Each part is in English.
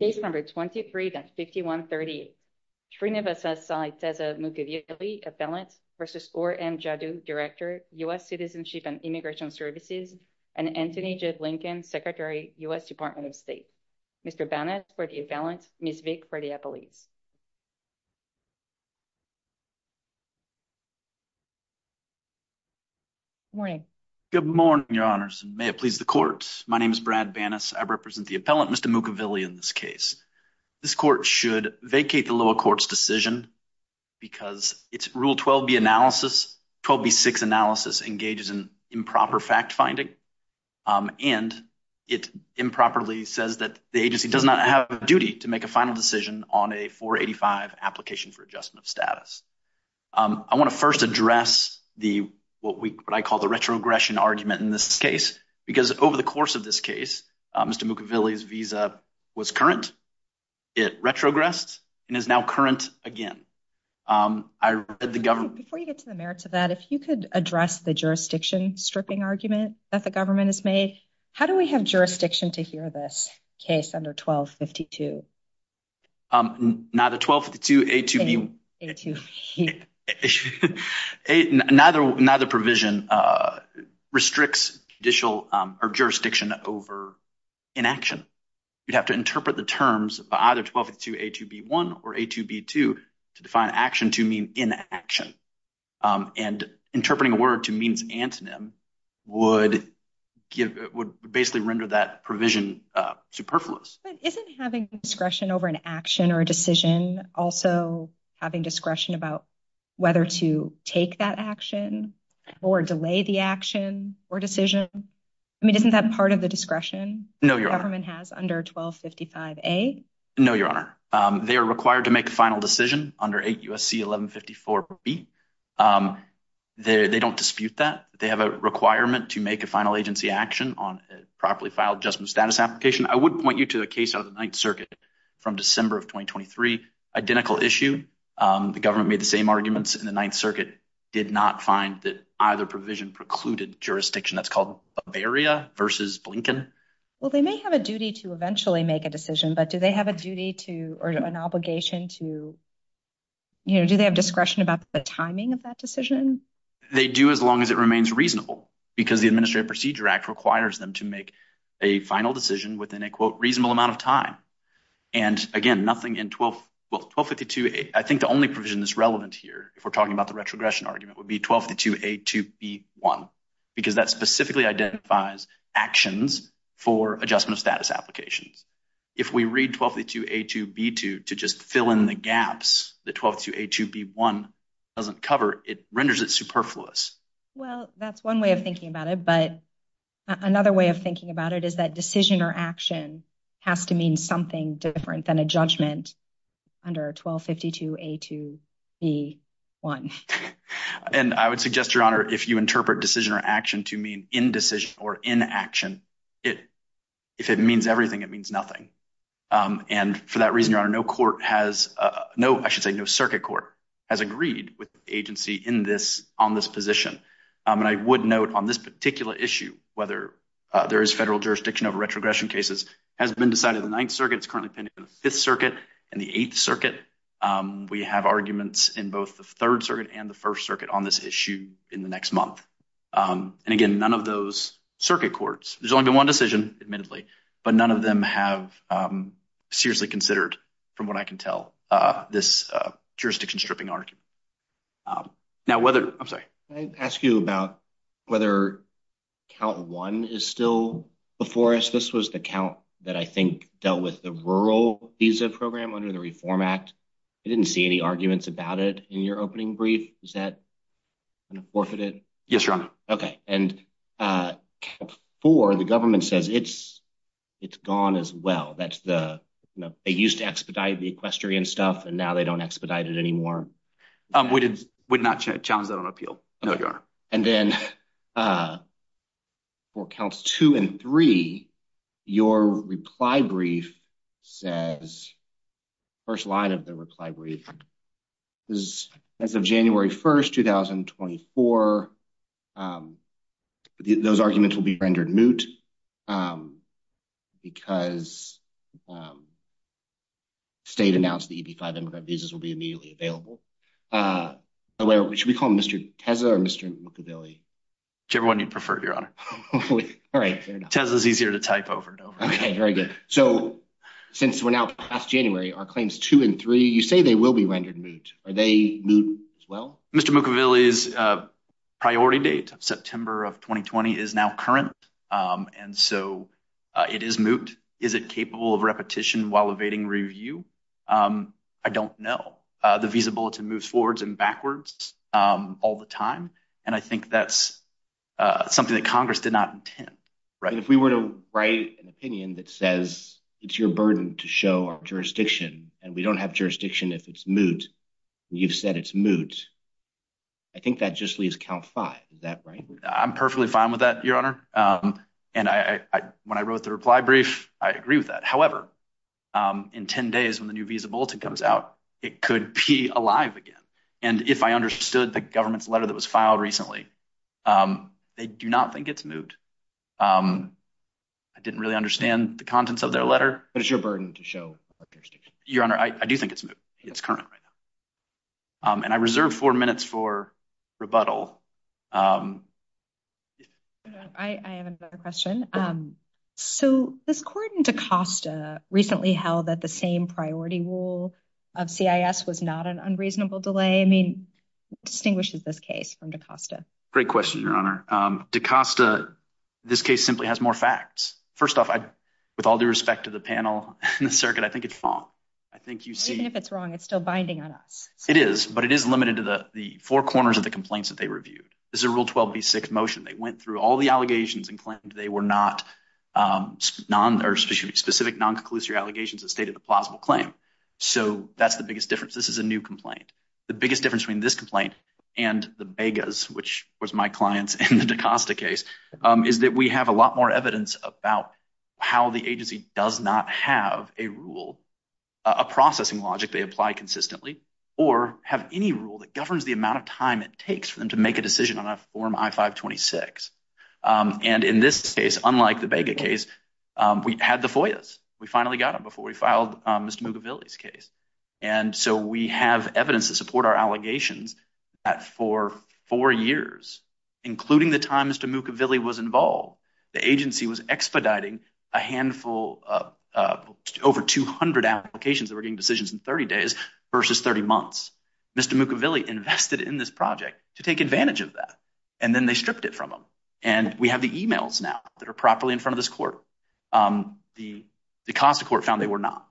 Case number 23-5138. Srinivasa Saiteza Mukkavilli, appellant, versus Ur M. Jaddou, director, U.S. Citizenship and Immigration Services, and Anthony J. Lincoln, secretary, U.S. Department of State. Mr. Banas for the appellant, Ms. Vick for the appellees. Good morning. Good morning, your honors. May it please the court. My name is Brad Banas. I represent the appellant, Mr. Mukkavilli, in this case. This court should vacate the lower court's decision because its Rule 12b analysis, 12b-6 analysis, engages in improper fact-finding, and it improperly says that the agency does not have a duty to make a final decision on a 485 application for adjustment of status. I want to first address what I call the retrogression argument in this case, because over the course of this case, Mr. Mukkavilli's visa was current, it retrogressed, and is now current again. I read the government... Before you get to the merits of that, if you could address the jurisdiction stripping argument that the government has made. How do we have jurisdiction to hear this case under 12-52? Neither 12-52, A-2B... Neither provision restricts judicial or jurisdiction over inaction. You'd have to interpret the terms by either 12-52, A-2B-1 or A-2B-2 to define action to mean inaction, and interpreting a word to means antonym would basically render that provision superfluous. Isn't having discretion over an action or a decision also having discretion about whether to take that action or delay the action or decision? I mean, isn't that part of the discretion the government has under 12-55A? No, Your Honor. They are required to make a final decision under 8 U.S.C. 11-54B. They don't dispute that. They have a requirement to make a final agency action on a properly filed adjustment status application. I would point you to the case out of the Ninth Circuit from December of 2023. Identical issue. The government made the same arguments in the Ninth Circuit, did not find that either provision precluded jurisdiction. That's called Bavaria versus Blinken. Well, they may have a duty to eventually make a decision, but do they have a duty to or an obligation to, you know, do they have discretion about the timing of that decision? They do as long as it remains reasonable because the Administrative Procedure Act requires them to make a final decision within a quote reasonable amount of time. And again, nothing in 12-52A. I think the only provision that's relevant here, if we're talking about the retrogression argument, would be 12-52A2B1 because that specifically identifies actions for adjustment of status applications. If we read 12-52A2B2 to just fill in the gaps that 12-52A2B1 doesn't cover, it renders it superfluous. Well, that's one way of thinking about it, but another way of thinking about it is that decision or action has to mean something different than a judgment under 12-52A2B1. And I would suggest, Your Honor, if you interpret decision or action to mean indecision or inaction, if it means everything, it means nothing. And for that reason, Your Honor, no court has no, I should say, no circuit court has agreed with the agency in this, on this position. And I would note on this particular issue, whether there is federal jurisdiction over retrogression cases has been decided in the opinion of the Fifth Circuit and the Eighth Circuit. We have arguments in both the Third Circuit and the First Circuit on this issue in the next month. And again, none of those circuit courts, there's only been one decision, admittedly, but none of them have seriously considered, from what I can tell, this jurisdiction stripping argument. Now, whether, I'm sorry. Can I ask you about whether Count 1 is still before us? This was the count that I think dealt with the rural visa program under the Reform Act. I didn't see any arguments about it in your opening brief. Is that forfeited? Yes, Your Honor. Okay. And Count 4, the government says it's, it's gone as well. That's the, you know, they used to expedite the equestrian stuff and now they don't expedite it anymore. We did, we did not challenge that on appeal. No, Your Honor. And then for Counts 2 and 3, your reply brief says, first line of the reply brief, is as of January 1st, 2024, those arguments will be rendered moot because state announced the EB-5 immigrant visas will be immediately available. Should we call him Mr. Tezza or Mr. Mukaville? Whichever one you prefer, Your Honor. All right. Tezza's easier to type over and over. Okay, very good. So, since we're now past January, our claims 2 and 3, you say they will be rendered moot. Are they moot as well? Mr. Mukaville's priority date, September of 2020, is now current, and so it is moot. Is it capable of repetition while evading review? I don't know. The visa bulletin moves forwards and backwards all the time, and I think that's something that Congress did not intend. If we were to write an opinion that says, it's your burden to show our jurisdiction, and we don't have jurisdiction if it's moot, and you've said it's moot, I think that just leaves Count 5. Is that right? I'm perfectly fine with that, Your Honor. And when I wrote the reply brief, I agree with that. However, in 10 days when the new visa bulletin comes out, it could be alive again. And if I understood the government's letter that was filed recently, they do not think it's moot. I didn't really understand the contents of their letter. But it's your burden to show our jurisdiction. Your Honor, I do think it's current right now. And I reserve four minutes for rebuttal. I have another question. So this court in DaCosta recently held that the same priority rule of CIS was not an unreasonable delay. I mean, what distinguishes this case from DaCosta? Great question, Your Honor. DaCosta, this case simply has more facts. First off, with all due respect to the panel and the circuit, I think it's wrong. I think you see. Even if it's wrong, it's still binding on us. It is, but it is limited to the four corners of the complaints that they reviewed. This is a Rule 12b6 motion. They went through all the allegations and claimed they were not specific non-conclusory allegations that stated a plausible claim. So that's the biggest difference. This is a new complaint. The biggest difference between this complaint and the Vegas, which was my client's in the DaCosta case, is that we have a rule, a processing logic they apply consistently, or have any rule that governs the amount of time it takes for them to make a decision on a form I-526. And in this case, unlike the Vega case, we had the FOIAs. We finally got them before we filed Mr. Mucavilli's case. And so we have evidence to support our allegations that for four years, including the time Mr. Mucavilli was over 200 applications that were getting decisions in 30 days versus 30 months, Mr. Mucavilli invested in this project to take advantage of that. And then they stripped it from them. And we have the emails now that are properly in front of this court. The DaCosta court found they were not.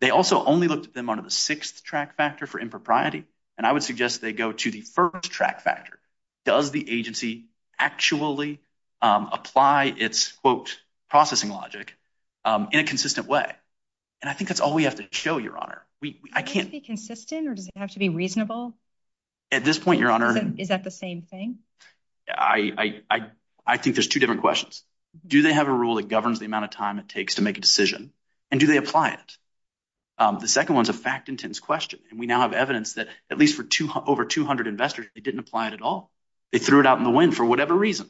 They also only looked at them under the sixth track factor for impropriety. And I would suggest they go to the first track factor. Does the agency actually apply its, quote, processing logic in a consistent way? And I think that's all we have to show, Your Honor. I can't- Does it have to be consistent, or does it have to be reasonable? At this point, Your Honor- Is that the same thing? I think there's two different questions. Do they have a rule that governs the amount of time it takes to make a decision, and do they apply it? The second one's a fact-intense question. And we now have evidence that at least for over 200 investors, they didn't apply it at all. They threw it out in the wind for whatever reason,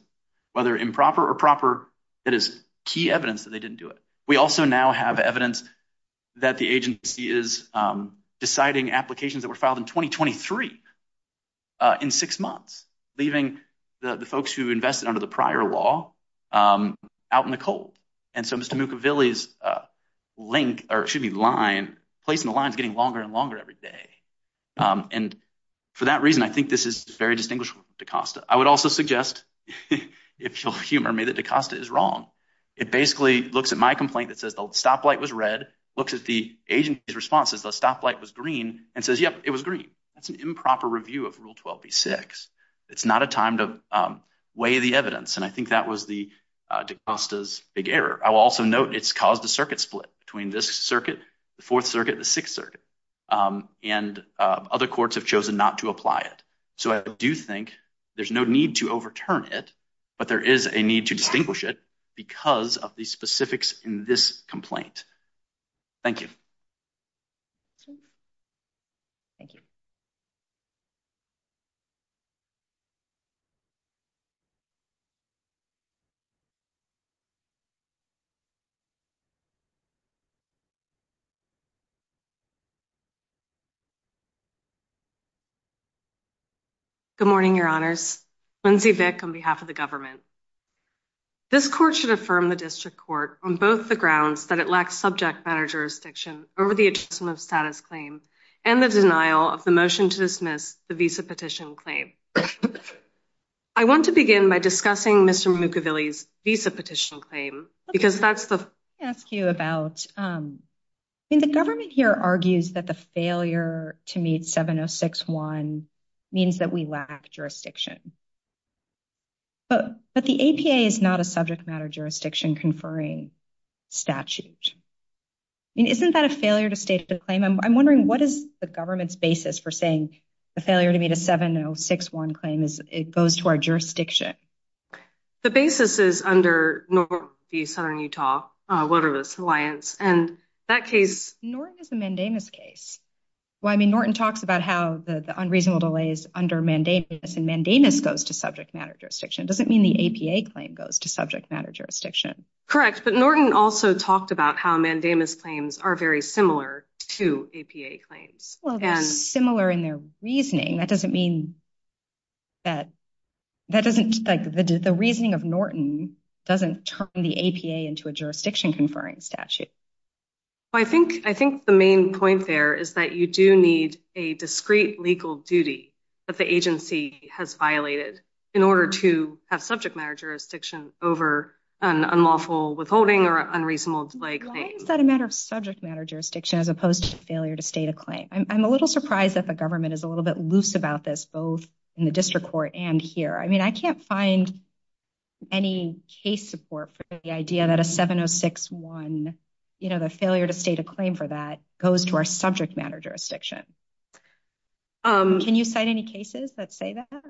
whether improper or proper. That is key evidence that they didn't do it. We also now have evidence that the agency is deciding applications that were filed in 2023 in six months, leaving the folks who invested under the prior law out in the cold. And so Mr. Mukaville's link- or it should be line- placing the lines getting longer and longer every day. And for that reason, I think this is very distinguishable from DaCosta. I would also suggest, if you'll humor me, that DaCosta is wrong. It basically looks at my complaint that says the stoplight was red, looks at the agency's responses, the stoplight was green, and says, yep, it was green. That's an improper review of Rule 12b-6. It's not a time to weigh the evidence. And I think that was DaCosta's big error. I will also note it's caused a circuit and other courts have chosen not to apply it. So I do think there's no need to overturn it, but there is a need to distinguish it because of the specifics in this complaint. Thank you. Thank you. Good morning, Your Honors. Lindsay Vick on behalf of the government. This court should affirm the district court on both the grounds that it lacks subject matter jurisdiction over the adjustment of status claim and the denial of the motion to dismiss the visa petition claim. I want to begin by discussing Mr. Mukaville's visa petition claim because that's the- I mean, the government here argues that the failure to meet 706-1 means that we lack jurisdiction. But the APA is not a subject matter jurisdiction conferring statute. I mean, isn't that a failure to state the claim? I'm wondering what is the government's basis for saying the failure to meet a 706-1 claim goes to our jurisdiction? The basis is under the Southern Utah Wilderness Alliance. And that case- Norton is a mandamus case. Well, I mean, Norton talks about how the unreasonable delays under mandamus and mandamus goes to subject matter jurisdiction. It doesn't mean the APA claim goes to subject matter jurisdiction. Correct. But Norton also talked about how mandamus claims are very similar to APA claims. Well, they're similar in their reasoning. That doesn't- the reasoning of Norton doesn't turn the APA into a jurisdiction conferring statute. I think the main point there is that you do need a discrete legal duty that the agency has violated in order to have subject matter jurisdiction over an unlawful withholding or unreasonable delay claim. Why is that a matter of subject matter jurisdiction as opposed to failure to state a claim? I'm a little surprised that the in the district court and here. I mean, I can't find any case support for the idea that a 706-1, you know, the failure to state a claim for that goes to our subject matter jurisdiction. Can you cite any cases that say that?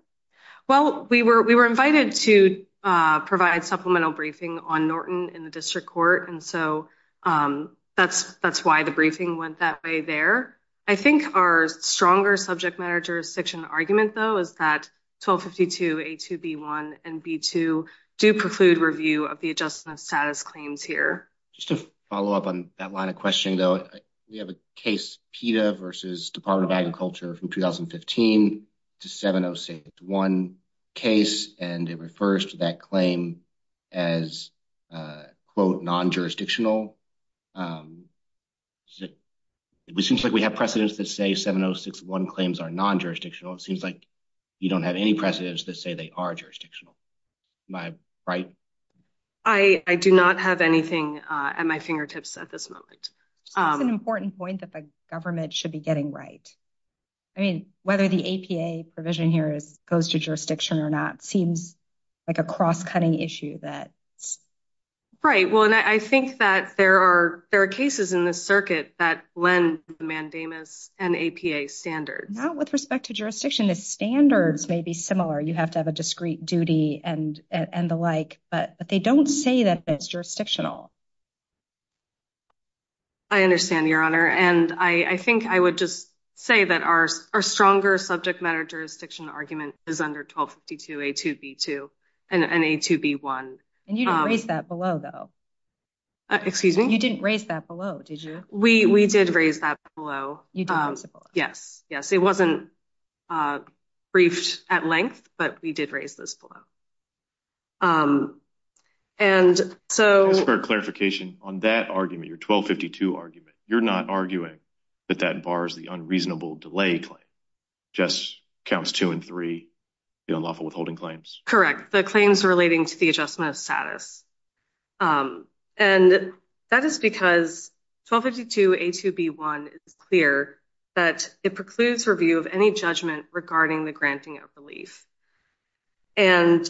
Well, we were invited to provide supplemental briefing on Norton in the district court. And so that's why the briefing went that way there. I think our stronger subject matter jurisdiction argument, though, is that 1252 A2B1 and B2 do preclude review of the adjustment of status claims here. Just to follow up on that line of questioning, though, we have a case PETA versus Department of Agriculture from 2015 to 706-1 case, and it refers to that claim as, quote, non-jurisdictional. It seems like we have precedents that say 706-1 claims are non-jurisdictional. It seems like you don't have any precedents that say they are jurisdictional. Am I right? I do not have anything at my fingertips at this moment. It's an important point that the government should be getting right. I mean, whether the APA provision here goes to jurisdiction or not seems like a cross-cutting issue that. Right. Well, and I think that there are there are cases in the circuit that lend mandamus and APA standards. Not with respect to jurisdiction. The standards may be similar. You have to have a discreet duty and the like, but they don't say that it's jurisdictional. I understand, Your Honor, and I think I would just say that our stronger subject matter argument is under 1252A2B2 and A2B1. And you didn't raise that below, though. Excuse me? You didn't raise that below, did you? We did raise that below. You did raise it below. Yes, yes. It wasn't briefed at length, but we did raise this below. And so. Just for clarification, on that argument, your 1252 argument, you're not arguing that that bars the unreasonable delay claim. Just counts two and three, the unlawful withholding claims. Correct. The claims relating to the adjustment of status. And that is because 1252A2B1 is clear that it precludes review of any judgment regarding the granting of relief. And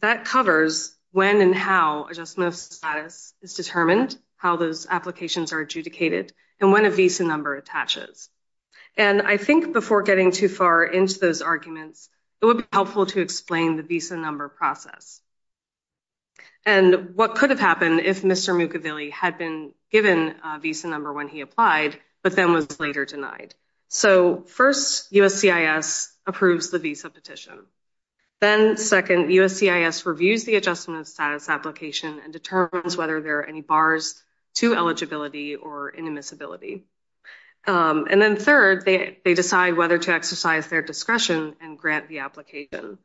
that covers when and how adjustment of status is determined, how those applications are adjudicated, and when a visa number attaches. And I think before getting too far into those arguments, it would be helpful to explain the visa number process. And what could have happened if Mr. Mukavilli had been given a visa number when he applied, but then was later denied. So first, USCIS approves the visa petition. Then second, USCIS reviews the adjustment of status application and determines whether there are any bars to eligibility or inadmissibility. And then third, they decide whether to exercise their discretion and grant the application.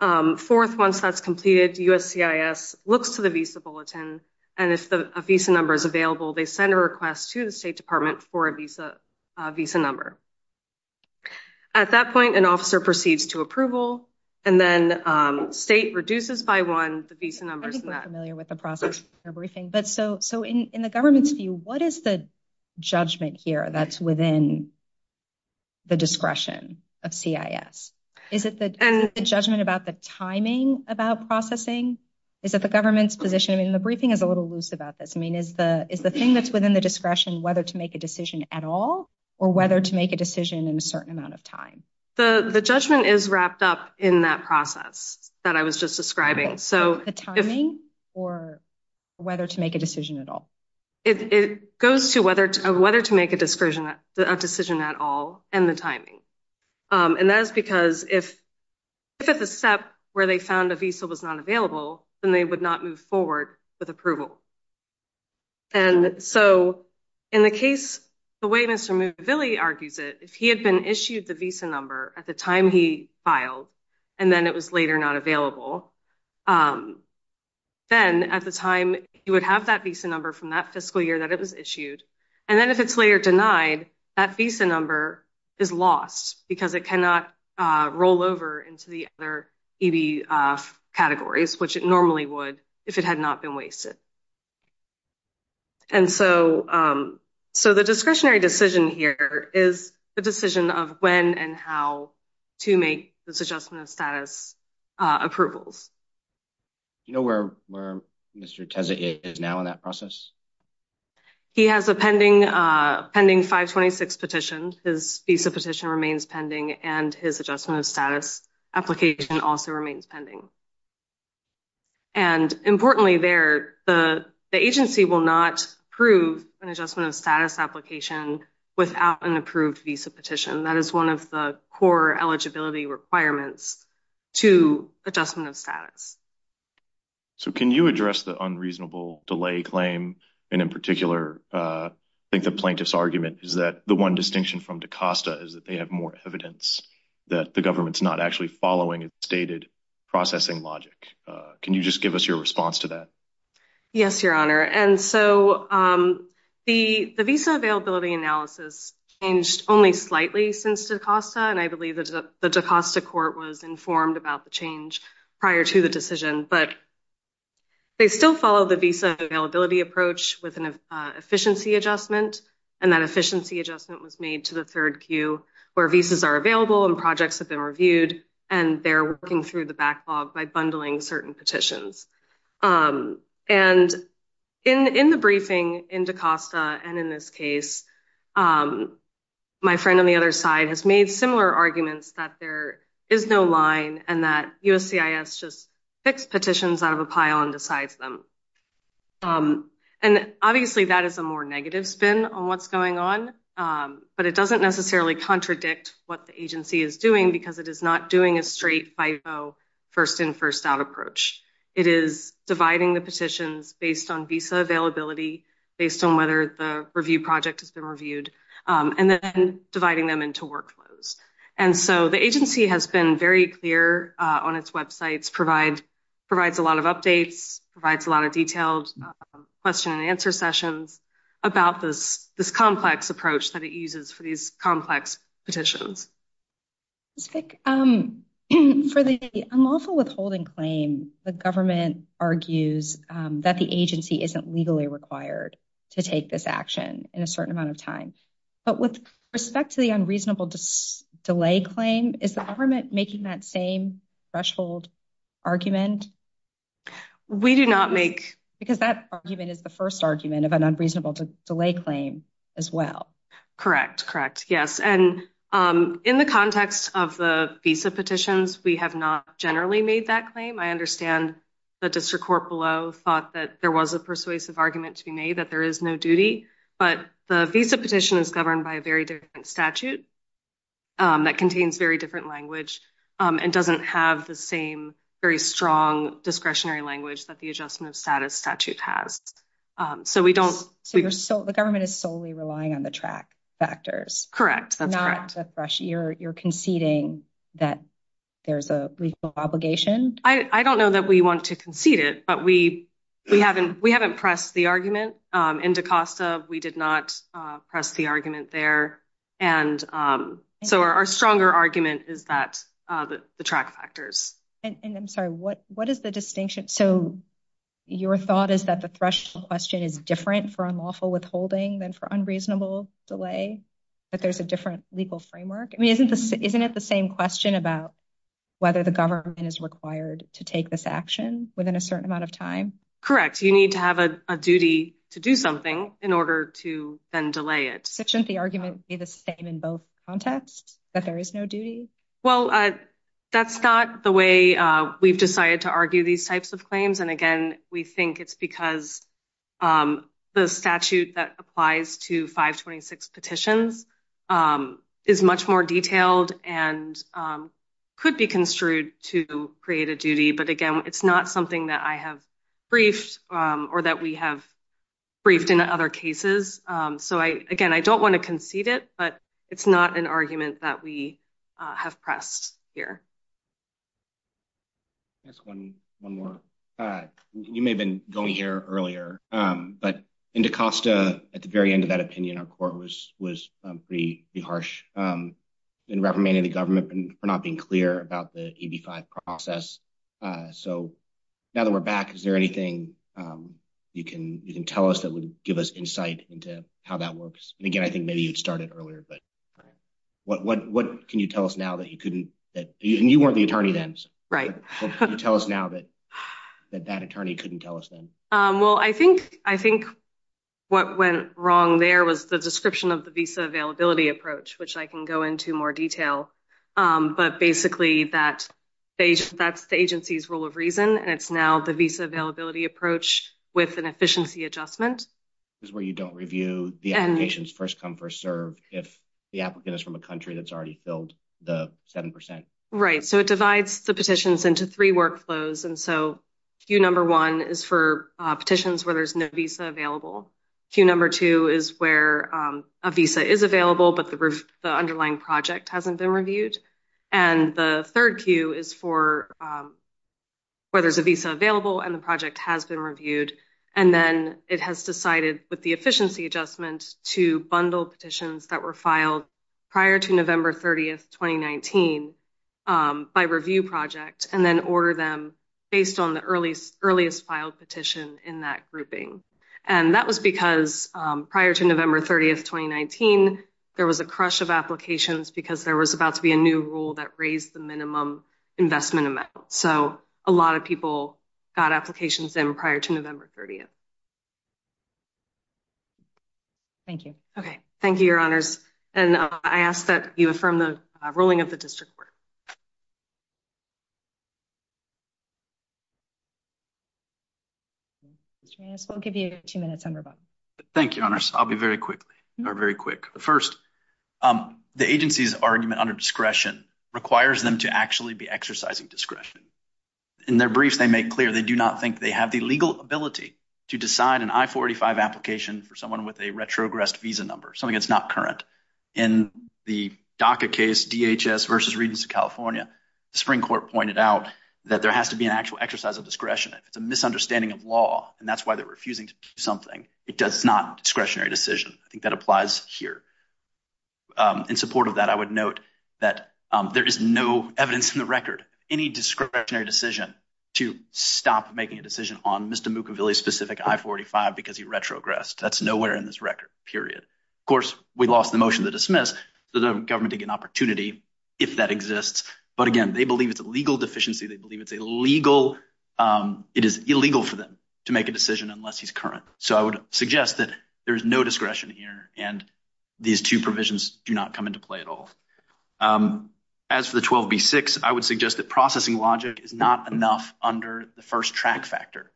Fourth, once that's completed, USCIS looks to the visa bulletin. And if a visa number is available, they send a request to the State Department for a visa number. At that point, an officer proceeds to approval. And then state reduces by one the visa numbers. I think we're familiar with the process for briefing. So in the government's view, what is the judgment here that's within the discretion of CIS? Is it the judgment about the timing about processing? Is it the government's position? I mean, the briefing is a little loose about this. I mean, is the thing that's within the discretion whether to make a decision at all or whether to make a decision in a certain amount of time? The judgment is wrapped up in that process that I was just describing. The timing or whether to make a decision at all? It goes to whether to make a decision at all and the timing. And that is because if at the step where they found a visa was not available, then they would not move forward with approval. And so in the case, the way Mr. Movilli argues it, if he had been issued the visa number at the time he filed and then it was later not available, then at the time he would have that visa number from that fiscal year that it was issued. And then if it's later denied, that visa number is lost because it cannot roll over into the other EB categories, which it normally would if it had not been wasted. And so the discretionary decision here is the decision of when and how to make this adjustment of status approvals. You know where Mr. Tezza is now in that process? He has a pending 526 petition. His visa petition remains pending and his adjustment of status application also remains pending. And importantly there, the agency will not approve an adjustment of status application without an approved visa petition. That is one of the core eligibility requirements to adjustment of status. So can you address the unreasonable delay claim? And in particular, I think the plaintiff's argument is that the one distinction from DaCosta is that they have more evidence that the government's not actually following its stated processing logic. Can you just give us your response to that? Yes, Your Honor. And so the visa availability analysis changed only slightly since DaCosta. And I believe that the DaCosta court was informed about the change prior to the decision. But they still follow the visa availability approach with an efficiency adjustment. And that efficiency adjustment was made to the third queue where visas are available and projects have been reviewed. And they're working through the backlog by bundling certain petitions. And in the briefing in DaCosta and in this case, my friend on the other side has made similar arguments that there is no line and that USCIS just picks petitions out of a pile and decides them. And obviously that is a more negative spin on what's going on. But it doesn't necessarily contradict what the agency is doing because it is not doing a straight FIVO first in first out approach. It is dividing the petitions based on visa availability, based on whether the review project has been reviewed, and then dividing them into workflows. And so the agency has been very clear on its websites, provides a lot of updates, provides a lot of detailed question and answer sessions about this complex approach that it uses for these complex petitions. Ms. Fick, for the unlawful withholding claim, the government argues that the agency isn't legally required to take this action in a certain amount of time. But with respect to the unreasonable delay claim, is the government making that same threshold argument? We do not make. Because that argument is the first argument of an unreasonable delay claim as well. Correct. Correct. Yes, and in the context of the visa petitions, we have not generally made that claim. I understand the district court below thought that there was a persuasive argument to be made that there is no duty. But the visa petition is governed by a very different statute that contains very different language and doesn't have the same very strong discretionary language that the Adjustment of Status statute has. So we don't... So the government is solely relying on the track factors? Correct. That's correct. You're conceding that there's a legal obligation? I don't know that we want to concede it, but we haven't pressed the argument in DaCosta. We did not press the argument there. And so our stronger argument is that the track factors. And I'm sorry, what is the distinction? So your thought is that the threshold question is different for unlawful withholding than for unreasonable delay? That there's a different legal framework? I mean, isn't it the same question about whether the government is required to take this action within a certain amount of time? Correct. You need to have a duty to do something in order to then delay it. Shouldn't the argument be the same in both contexts, that there is no duty? Well, that's not the way we've decided to argue these types of claims. And again, we think it's because the statute that applies to 526 petitions is much more detailed and could be construed to create a duty. But again, it's not something that I have briefed or that we have briefed in other cases. So again, I don't want to concede it, but it's not an argument that we have pressed here. I'll ask one more. You may have been going here earlier, but in DaCosta, at the very end of that opinion, our court was pretty harsh in reprimanding the government for not being clear about the AB5 process. So now that we're back, is there anything you can tell us that would give us insight into how that works? And again, I think maybe you'd started earlier, but what can you tell us now that you couldn't that you weren't the attorney then? Right. Can you tell us now that that attorney couldn't tell us then? Well, I think what went wrong there was the description of the visa availability approach, which I can go into more detail. But basically, that's the agency's rule of reason, and it's now the visa availability approach with an efficiency adjustment. Is where you don't review the applications first come first serve if the applicant is a country that's already filled the seven percent. Right. So it divides the petitions into three workflows. And so Q number one is for petitions where there's no visa available. Q number two is where a visa is available, but the underlying project hasn't been reviewed. And the third Q is for where there's a visa available and the project has been reviewed. And then it has decided with the efficiency adjustment to bundle petitions that were filed prior to November 30th, 2019, by review project and then order them based on the earliest filed petition in that grouping. And that was because prior to November 30th, 2019, there was a crush of applications because there was about to be a new rule that raised the minimum investment amount. So a lot of people got applications in prior to November 30th. Thank you. Okay. Thank you, your honors. And I ask that you affirm the ruling of the district court. We'll give you two minutes. Thank you, your honors. I'll be very quickly or very quick. First, the agency's argument under discretion requires them to actually be exercising discretion. In their briefs, they make clear they do not think they have the legal ability to decide an I-485 application for someone with a retrogressed visa number, something that's not current. In the DACA case, DHS versus Regents of California, the Supreme Court pointed out that there has to be an actual exercise of discretion. If it's a misunderstanding of law, and that's why they're refusing to do something, it does not discretionary decision. I think that applies here. In support of that, I would note that there is no evidence in the record, any discretionary decision to stop making a decision on Mr. Mukaville's specific I-485 because he retrogressed. That's nowhere in this record, period. Of course, we lost the motion to dismiss, so the government didn't get an opportunity if that exists. But again, they believe it's a legal deficiency. They believe it's illegal for them to make a decision unless he's current. So I would suggest that there is no discretion here, and these two provisions do not come into play at all. As for the 12b-6, I would suggest that processing logic is not enough under the first track factor.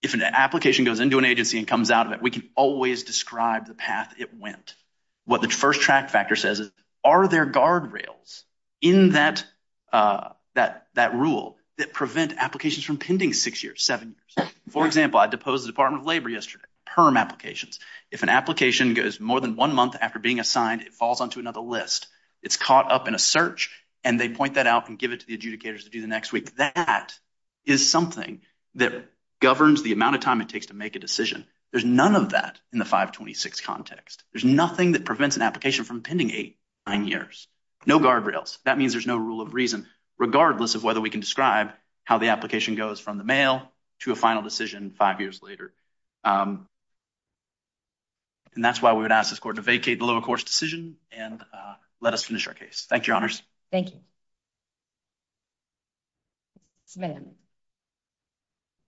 If an application goes into an agency and comes out of it, we can always describe the path it went. What the first track factor says is, are there guardrails in that rule that prevent applications from pending six years, seven years? For example, I deposed the Department of Labor yesterday, PERM applications. If an application goes more than one month after being assigned, it falls onto another list, it's caught up in a search, and they point that out and give it to the adjudicators to do the next week. That is something that governs the amount of time it takes to make a decision. There's none of that in the 526 context. There's nothing that prevents an application from pending eight, nine years. No guardrails. That means there's no rule of reason, regardless of whether we can describe how the application goes from the mail to a final decision five years later. And that's why we would ask this Court to vacate the lower-course decision and let us finish our case. Thank you, Your Honors. Thank you.